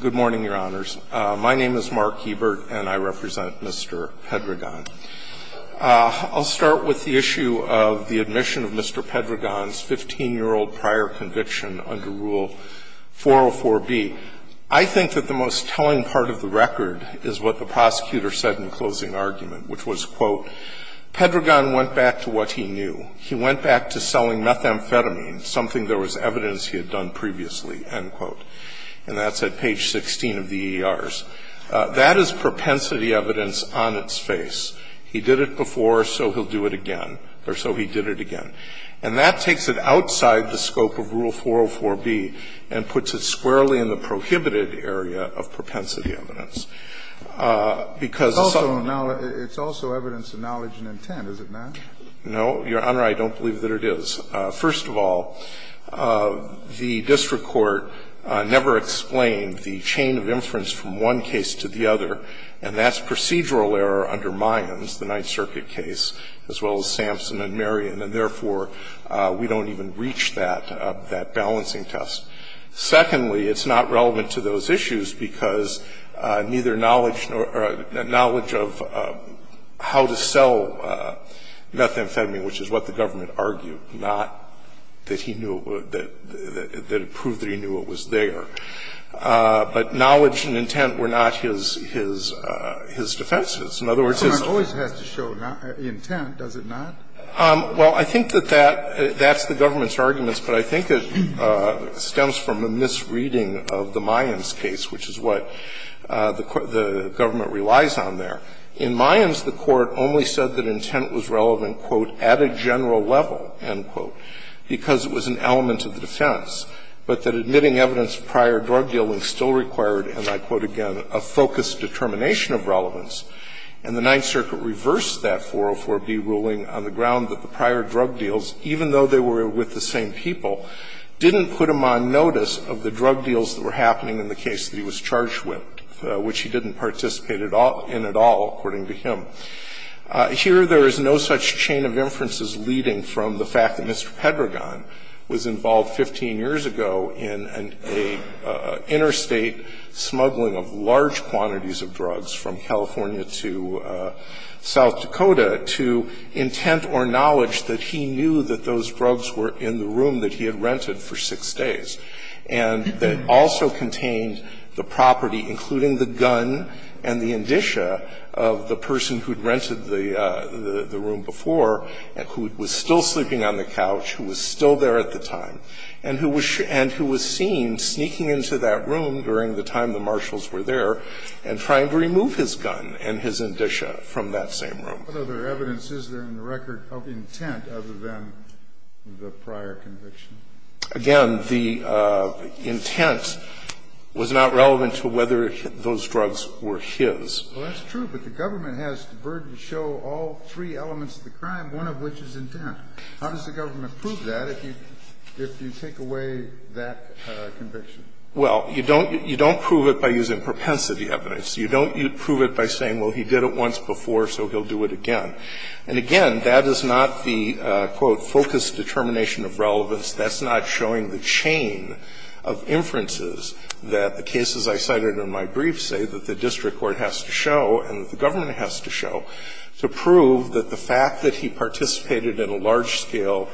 Good morning, Your Honors. My name is Mark Hebert, and I represent Mr. Pedregon. I'll start with the issue of the admission of Mr. Pedregon's 15-year-old prior conviction under Rule 404b. I think that the most telling part of the record is what the prosecutor said in the closing argument, which was, quote, Pedregon went back to what he knew. He went back to selling methamphetamine, something there was evidence he had done previously, end quote. And that's at page 16 of the EERs. That is propensity evidence on its face. He did it before, so he'll do it again, or so he did it again. And that takes it outside the scope of Rule 404b and puts it squarely in the prohibited area of propensity evidence, because it's also a knowledge and intent, is it not? No, Your Honor, I don't believe that it is. First of all, the district court never explained the chain of inference from one case to the other, and that's procedural error under Mions, the Ninth Circuit case, as well as Sampson and Marion, and therefore, we don't even reach that balancing test. Secondly, it's not relevant to those issues because neither knowledge of how to sell methamphetamine, which is what the government argued, not that he knew it would, that it proved that he knew it was there, but knowledge and intent were not his defenses. In other words, his --- Scalia, so it always has to show intent, does it not? Well, I think that that's the government's arguments, but I think it stems from a misreading of the Mions case, which is what the government relies on there. In Mions, the Court only said that intent was relevant, quote, at a general level, end quote, because it was an element of the defense, but that admitting evidence of prior drug dealing still required, as I quote again, a focused determination of relevance, and the Ninth Circuit reversed that 404b ruling on the ground that prior drug deals, even though they were with the same people, didn't put him on notice of the drug deals that were happening in the case that he was charged with, which he didn't participate in at all, according to him. Here, there is no such chain of inferences leading from the fact that Mr. Pedragon was involved 15 years ago in an interstate smuggling of large quantities of drugs from California to South Dakota that he knew that those drugs were in the room that he had rented for 6 days, and that also contained the property, including the gun and the indicia of the person who had rented the room before, who was still sleeping on the couch, who was still there at the time, and who was seen sneaking into that room during the time the marshals were there and trying to remove his gun and his indicia from that same room. What other evidence is there in the record of intent other than the prior conviction? Again, the intent was not relevant to whether those drugs were his. Well, that's true, but the government has the burden to show all three elements of the crime, one of which is intent. How does the government prove that if you take away that conviction? Well, you don't prove it by using propensity evidence. You don't prove it by saying, well, he did it once before, so he'll do it again. And again, that is not the, quote, focused determination of relevance. That's not showing the chain of inferences that the cases I cited in my brief say that the district court has to show and that the government has to show to prove that the fact that he participated in a large-scale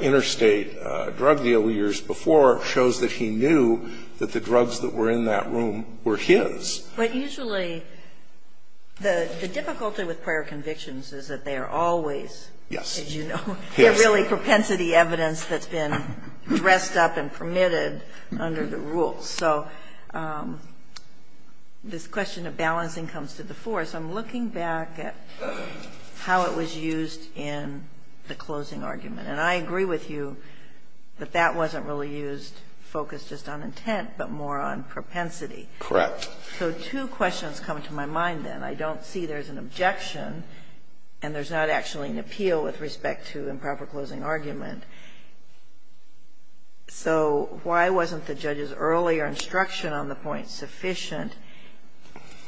interstate drug deal years before shows that he knew that the drugs that were in that room were his. But usually the difficulty with prior convictions is that they are always, as you know, they're really propensity evidence that's been dressed up and permitted under the rules. So this question of balancing comes to the fore, so I'm looking back at how it was used in the closing argument, and I agree with you that that wasn't really used, focused just on intent, but more on propensity. Correct. So two questions come to my mind, then. I don't see there's an objection, and there's not actually an appeal with respect to improper closing argument. So why wasn't the judge's earlier instruction on the point sufficient,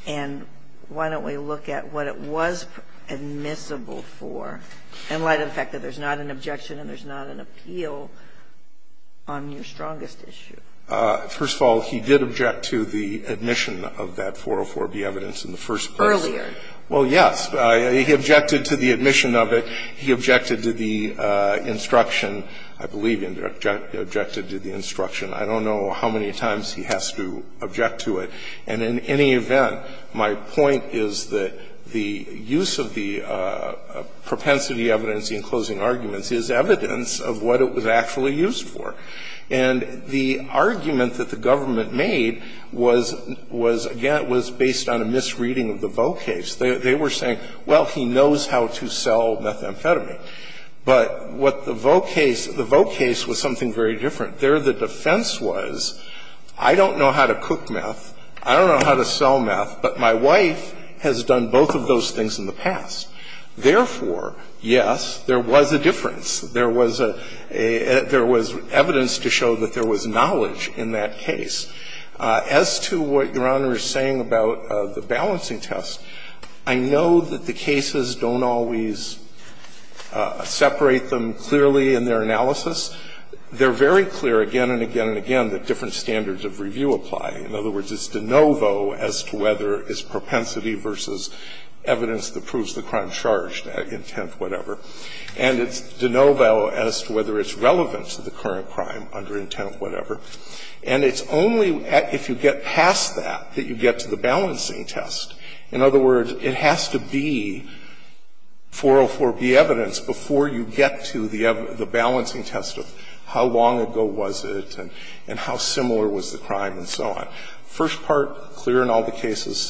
and why don't we look at what it was admissible for, in light of the fact that there's not an objection and there's not an appeal on your strongest issue? First of all, he did object to the admission of that 404B evidence in the first place. Earlier. Well, yes. He objected to the admission of it. He objected to the instruction. I believe he objected to the instruction. I don't know how many times he has to object to it. And in any event, my point is that the use of the propensity evidence in closing arguments is evidence of what it was actually used for. And the argument that the government made was, again, was based on a misreading of the Vaux case. They were saying, well, he knows how to sell methamphetamine. But what the Vaux case, the Vaux case was something very different. There, the defense was, I don't know how to cook meth, I don't know how to sell meth, but my wife has done both of those things in the past. Therefore, yes, there was a difference. There was evidence to show that there was knowledge in that case. As to what Your Honor is saying about the balancing test, I know that the cases don't always separate them clearly in their analysis. They're very clear again and again and again that different standards of review apply. In other words, it's de novo as to whether it's propensity versus evidence that proves the crime charged, intent, whatever. And it's de novo as to whether it's relevant to the current crime, under intent, whatever. And it's only if you get past that that you get to the balancing test. In other words, it has to be 404B evidence before you get to the balancing test of how long ago was it and how similar was the crime and so on. First part clear in all the cases.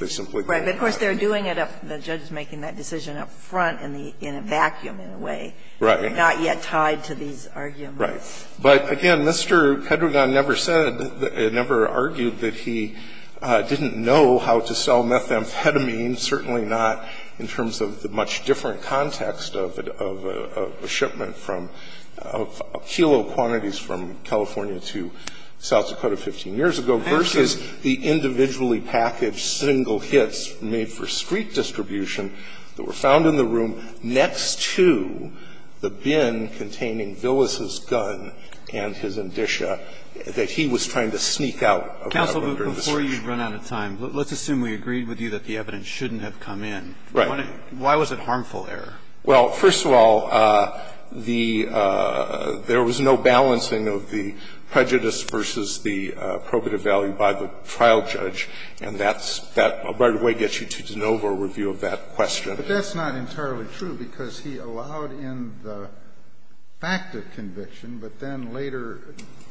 They simply go there. But of course, they're doing it up the judge is making that decision up front in the vacuum in a way. Right. Not yet tied to these arguments. Right. But again, Mr. Hedregan never said, never argued that he didn't know how to sell methamphetamine, certainly not in terms of the much different context of a shipment from kilo quantities from California to South Dakota 15 years ago versus the individually packaged single hits made for street distribution that were found in the room next to the bin containing Villis's gun and his indicia that he was trying to sneak out of the discussion. Counsel, before you run out of time, let's assume we agreed with you that the evidence shouldn't have come in. Right. Why was it harmful error? Well, first of all, the – there was no balancing of the prejudice versus the probative value by the trial judge, and that's – that right away gets you to de novo review of that question. But that's not entirely true, because he allowed in the fact of conviction, but then later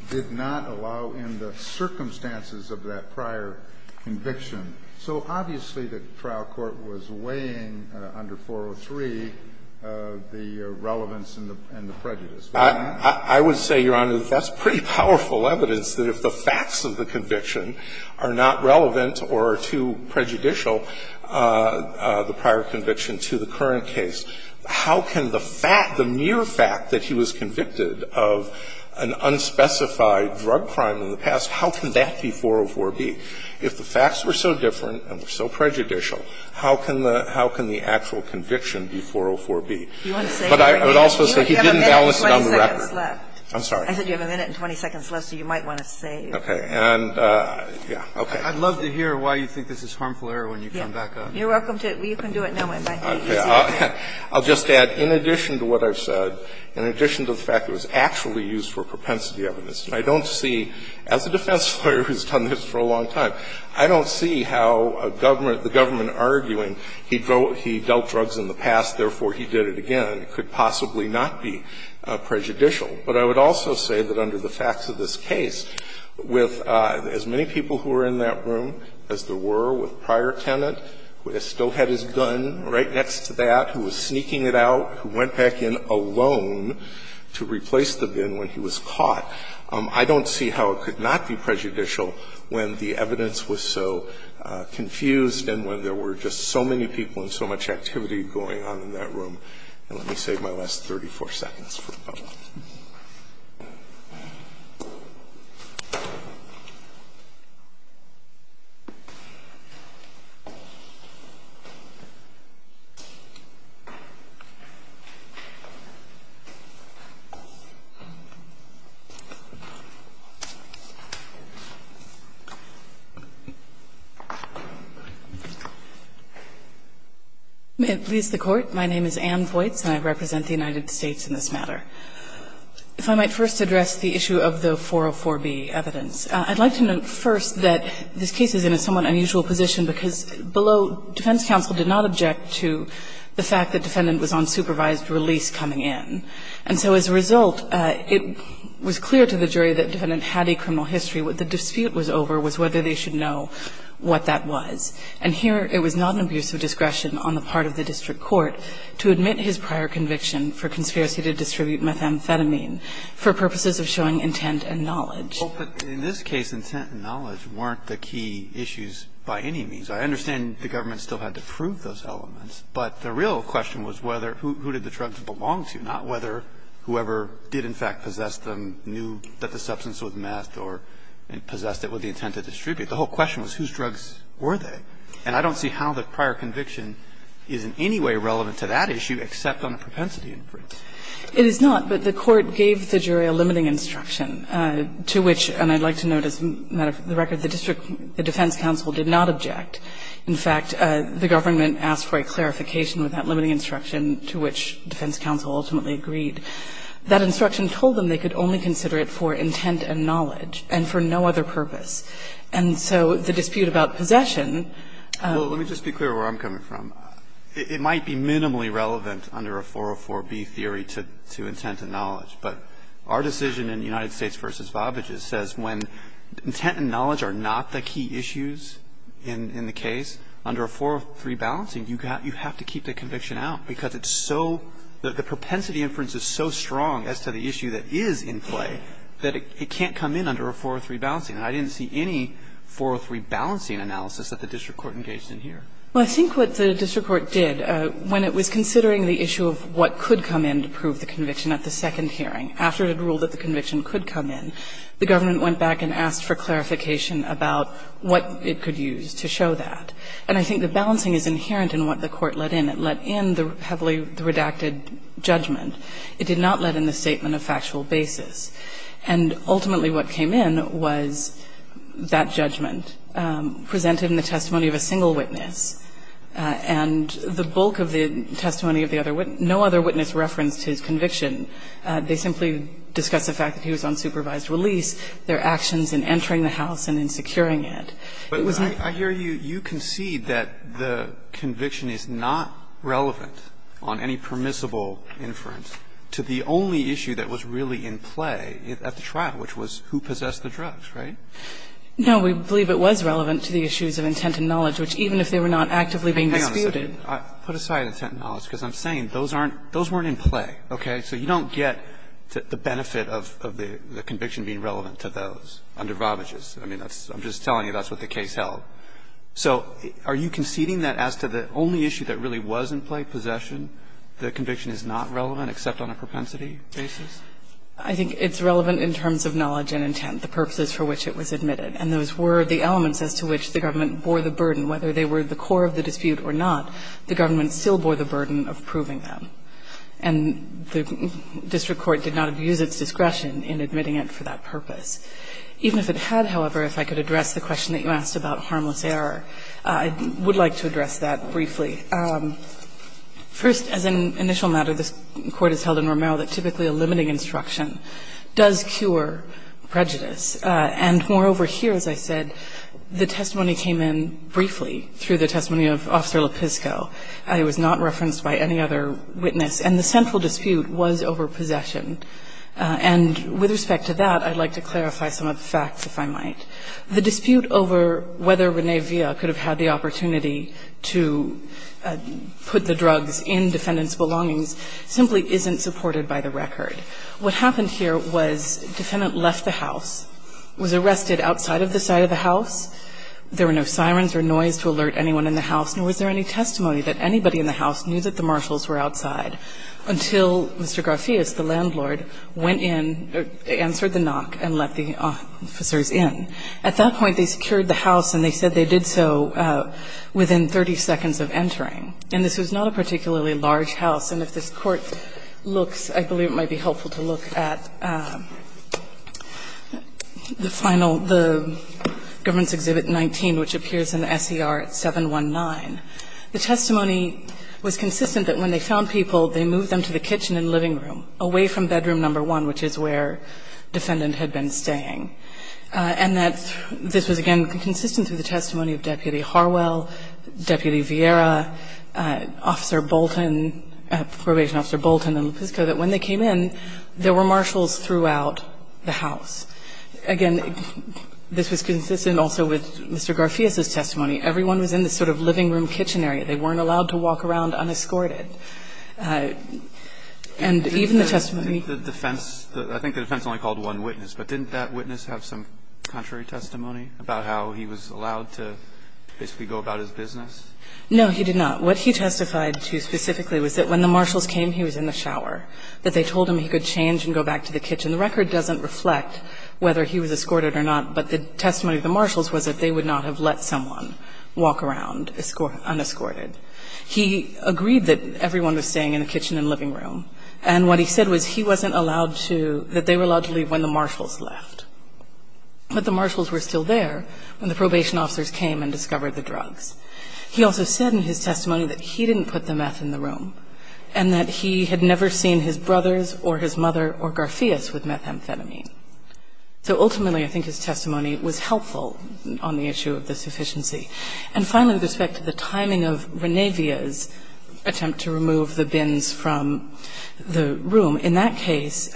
did not allow in the circumstances of that prior conviction. So obviously, the trial court was weighing under 403 the relevance and the prejudice. I would say, Your Honor, that's pretty powerful evidence that if the facts of the prior conviction are not relevant or are too prejudicial, the prior conviction to the current case, how can the fact, the mere fact that he was convicted of an unspecified drug crime in the past, how can that be 404-B? If the facts were so different and were so prejudicial, how can the actual conviction be 404-B? But I would also say he didn't balance it on the record. I'm sorry. I said you have a minute and 20 seconds left, so you might want to save. Okay. And, yeah. Okay. I'd love to hear why you think this is harmful error when you come back up. You're welcome to. You can do it now, my friend. I'll just add, in addition to what I've said, in addition to the fact it was actually used for propensity evidence, I don't see, as a defense lawyer who's done this for a long time, I don't see how a government, the government arguing he dealt drugs in the past, therefore he did it again, could possibly not be prejudicial. But I would also say that under the facts of this case, with as many people who were in that room as there were with prior tenant, who still had his gun right next to that, who was sneaking it out, who went back in alone to replace the gun when he was caught, I don't see how it could not be prejudicial when the evidence was so confused and when there were just so many people and so much activity going on in that room. And let me save my last 34 seconds for a moment. May it please the court. My name is Anne Voights and I represent the United States in this matter. If I might first address the issue of the 404B evidence. I'd like to note first that this case is in a somewhat unusual position because below defense counsel did not object to the fact that defendant was on supervised release coming in. And so as a result, it was clear to the jury that defendant had a criminal history. What the dispute was over was whether they should know what that was. And here it was not an abuse of discretion on the part of the district court to admit his prior conviction for conspiracy to distribute methamphetamine for purposes of showing intent and knowledge. But in this case, intent and knowledge weren't the key issues by any means. I understand the government still had to prove those elements, but the real question was whether who did the drugs belong to, not whether whoever did in fact possess them knew that the substance was meth or possessed it with the intent to distribute. The whole question was whose drugs were they. And I don't see how the prior conviction is in any way relevant to that issue, except on a propensity inference. It is not, but the court gave the jury a limiting instruction to which, and I'd like to note as a matter of the record, the district defense counsel did not object. In fact, the government asked for a clarification with that limiting instruction to which defense counsel ultimately agreed. That instruction told them they could only consider it for intent and knowledge and for no other purpose. And so the dispute about possession. Well, let me just be clear where I'm coming from. It might be minimally relevant under a 404B theory to intent and knowledge, but our decision in United States v. Bobbage's says when intent and knowledge are not the key issues in the case, under a 403 balancing, you have to keep the conviction out because it's so the propensity inference is so strong as to the issue that is in play that it can't come in under a 403 balancing. And I didn't see any 403 balancing analysis that the district court engaged in here. Well, I think what the district court did when it was considering the issue of what could come in to prove the conviction at the second hearing, after it had ruled that the conviction could come in, the government went back and asked for clarification about what it could use to show that. And I think the balancing is inherent in what the court let in. It let in the heavily redacted judgment. It did not let in the statement of factual basis. And ultimately what came in was that judgment presented in the testimony of a single witness, and the bulk of the testimony of the other witness, no other witness referenced his conviction. They simply discussed the fact that he was on supervised release, their actions in entering the house and in securing it. It was not the case. But I hear you concede that the conviction is not relevant on any permissible inference to the only issue that was really in play at the trial, which was who possessed the drugs, right? No, we believe it was relevant to the issues of intent and knowledge, which even if they were not actively being disputed. Put aside intent and knowledge, because I'm saying those weren't in play, okay? So you don't get the benefit of the conviction being relevant to those under Rovages. I mean, I'm just telling you that's what the case held. So are you conceding that as to the only issue that really was in play, possession, the conviction is not relevant except on a propensity basis? I think it's relevant in terms of knowledge and intent, the purposes for which it was admitted. And those were the elements as to which the government bore the burden, whether they were the core of the dispute or not, the government still bore the burden of proving them. And the district court did not abuse its discretion in admitting it for that purpose. Even if it had, however, if I could address the question that you asked about harmless error, I would like to address that briefly. First, as an initial matter, this Court has held in Romero that typically a limiting instruction does cure prejudice. And moreover here, as I said, the testimony came in briefly through the testimony of Officer Lepisko. It was not referenced by any other witness. And the central dispute was over possession. And with respect to that, I'd like to clarify some of the facts, if I might. The dispute over whether René Villa could have had the opportunity to put the drugs in defendants' belongings simply isn't supported by the record. What happened here was defendant left the house, was arrested outside of the side of the house. There were no sirens or noise to alert anyone in the house, nor was there any testimony that anybody in the house knew that the marshals were outside until Mr. Garfias, the landlord, went in, answered the knock, and let the officers in. At that point, they secured the house and they said they did so within 30 seconds of entering. And this was not a particularly large house. And if this Court looks, I believe it might be helpful to look at the final, the Government's Exhibit 19, which appears in the S.E.R. at 719. The testimony was consistent that when they found people, they moved them to the kitchen and living room, away from bedroom number one, which is where defendant had been staying. And that this was, again, consistent through the testimony of Deputy Harwell, Deputy Vieira, Officer Bolton, Probation Officer Bolton and Lopezco, that when they came in, there were marshals throughout the house. Again, this was consistent also with Mr. Garfias's testimony. Everyone was in this sort of living room kitchen area. They weren't allowed to walk around unescorted. And even the testimony of the defense, I think the defense only called one witness, but didn't that witness have some contrary testimony about how he was allowed to basically go about his business? No, he did not. What he testified to specifically was that when the marshals came, he was in the shower, that they told him he could change and go back to the kitchen. The record doesn't reflect whether he was escorted or not, but the testimony of the marshals was that they would not have let someone walk around unescorted. He agreed that everyone was staying in the kitchen and living room. And what he said was he wasn't allowed to – that they were allowed to leave when the marshals left. But the marshals were still there when the probation officers came and discovered the drugs. He also said in his testimony that he didn't put the meth in the room and that he had never seen his brothers or his mother or Garfias with methamphetamine. So ultimately, I think his testimony was helpful on the issue of the sufficiency. And finally, with respect to the timing of Renavia's attempt to remove the bins from the room, in that case,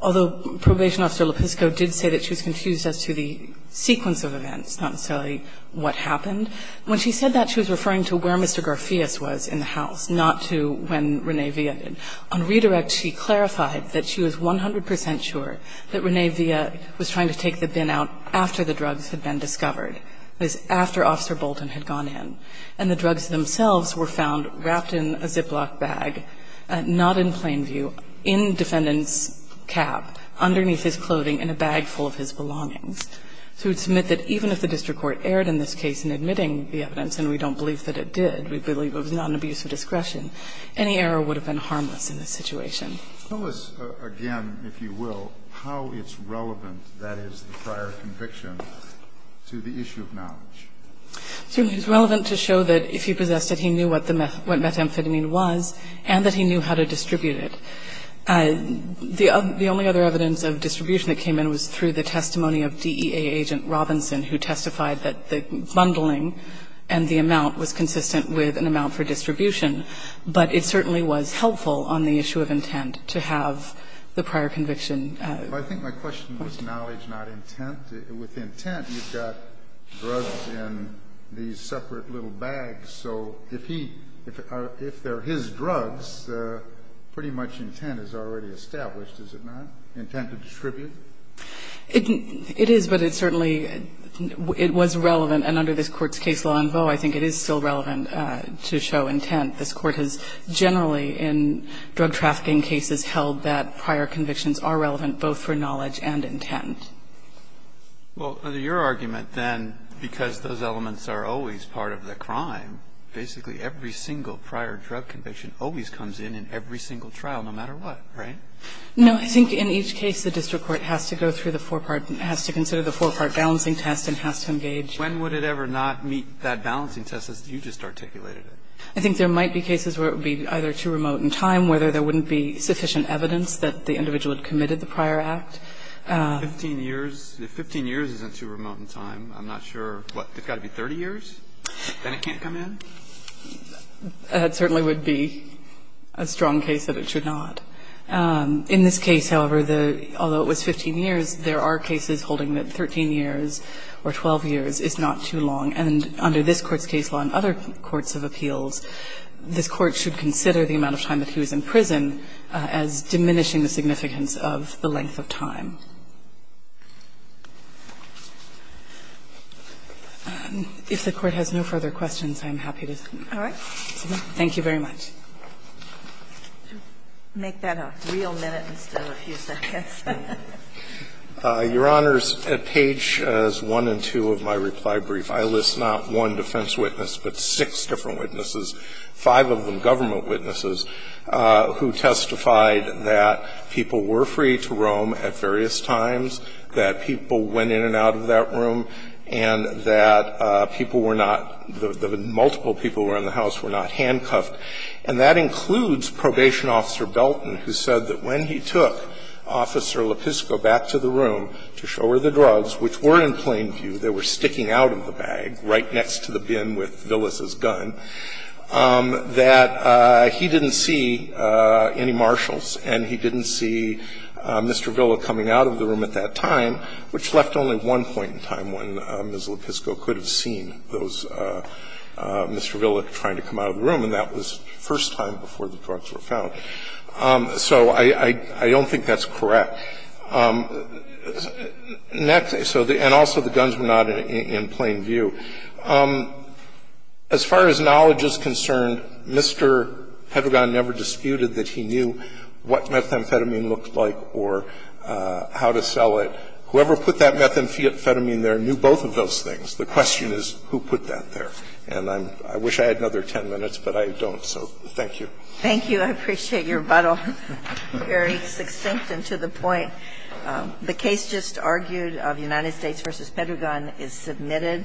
although Probation Officer Lopisco did say that she was confused as to the sequence of events, not necessarily what happened, when she said that, she was referring to where Mr. Garfias was in the house, not to when Renavia did. On redirect, she clarified that she was 100 percent sure that Renavia was trying to take the bin out after the drugs had been discovered, that is, after Officer Bolton had gone in. And the drugs themselves were found wrapped in a Ziploc bag, not in plain view, in defendant's cab, underneath his clothing, in a bag full of his belongings. So we'd submit that even if the district court erred in this case in admitting the evidence, and we don't believe that it did, we believe it was not an abuse of discretion, any error would have been harmless in this situation. Kennedy, again, if you will, how it's relevant, that is, the prior conviction to the issue of knowledge. It's relevant to show that if he possessed it, he knew what the methamphetamine was and that he knew how to distribute it. The only other evidence of distribution that came in was through the testimony of DEA agent Robinson, who testified that the bundling and the amount was consistent with an amount for distribution, but it certainly was helpful on the issue of intent to have the prior conviction. I think my question was knowledge, not intent. With intent, you've got drugs in these separate little bags, so if he or if they're his drugs, pretty much intent is already established, is it not? Intent to distribute? It is, but it certainly was relevant, and under this Court's case law in vogue, I think it is still relevant to show intent. This Court has generally in drug trafficking cases held that prior convictions are relevant both for knowledge and intent. Well, under your argument, then, because those elements are always part of the crime, basically every single prior drug conviction always comes in in every single trial, no matter what, right? No. I think in each case the district court has to go through the four-part, has to consider the four-part balancing test and has to engage. When would it ever not meet that balancing test as you just articulated it? I think there might be cases where it would be either too remote in time, whether there wouldn't be sufficient evidence that the individual had committed the prior act. 15 years, if 15 years isn't too remote in time, I'm not sure, what, it's got to be 30 years, then it can't come in? That certainly would be a strong case that it should not. In this case, however, although it was 15 years, there are cases holding that 13 years or 12 years is not too long, and under this Court's case law and other courts of appeals, this Court should consider the amount of time that he was in prison as diminishing the significance of the length of time. If the Court has no further questions, I'm happy to. All right. Thank you very much. Make that a real minute instead of a few seconds. Your Honors, at page 1 and 2 of my reply brief, I list not one defense witness, but six different witnesses, five of them government witnesses, who testified that people were free to roam at various times, that people went in and out of that room, and that people were not the multiple people who were in the house were not handcuffed, and that includes Probation Officer Belton, who said that when he took Officer Lepisko back to the room to show her the drugs, which were in plain view, they were sticking out of the bag right next to the bin with Villas's gun, that he didn't see any marshals and he didn't see Mr. Villa coming out of the room at that time, which left only one point in time when Ms. Lepisko could have seen those Mr. Villa trying to come out of the room, and that was the first time before the drugs were found. So I don't think that's correct. Next, and also the guns were not in plain view. As far as knowledge is concerned, Mr. Hedregaard never disputed that he knew what methamphetamine looked like or how to sell it. Whoever put that methamphetamine there knew both of those things. The question is who put that there. And I wish I had another 10 minutes, but I don't, so thank you. Thank you. I appreciate your rebuttal, very succinct and to the point. The case just argued of United States v. Pedregon is submitted.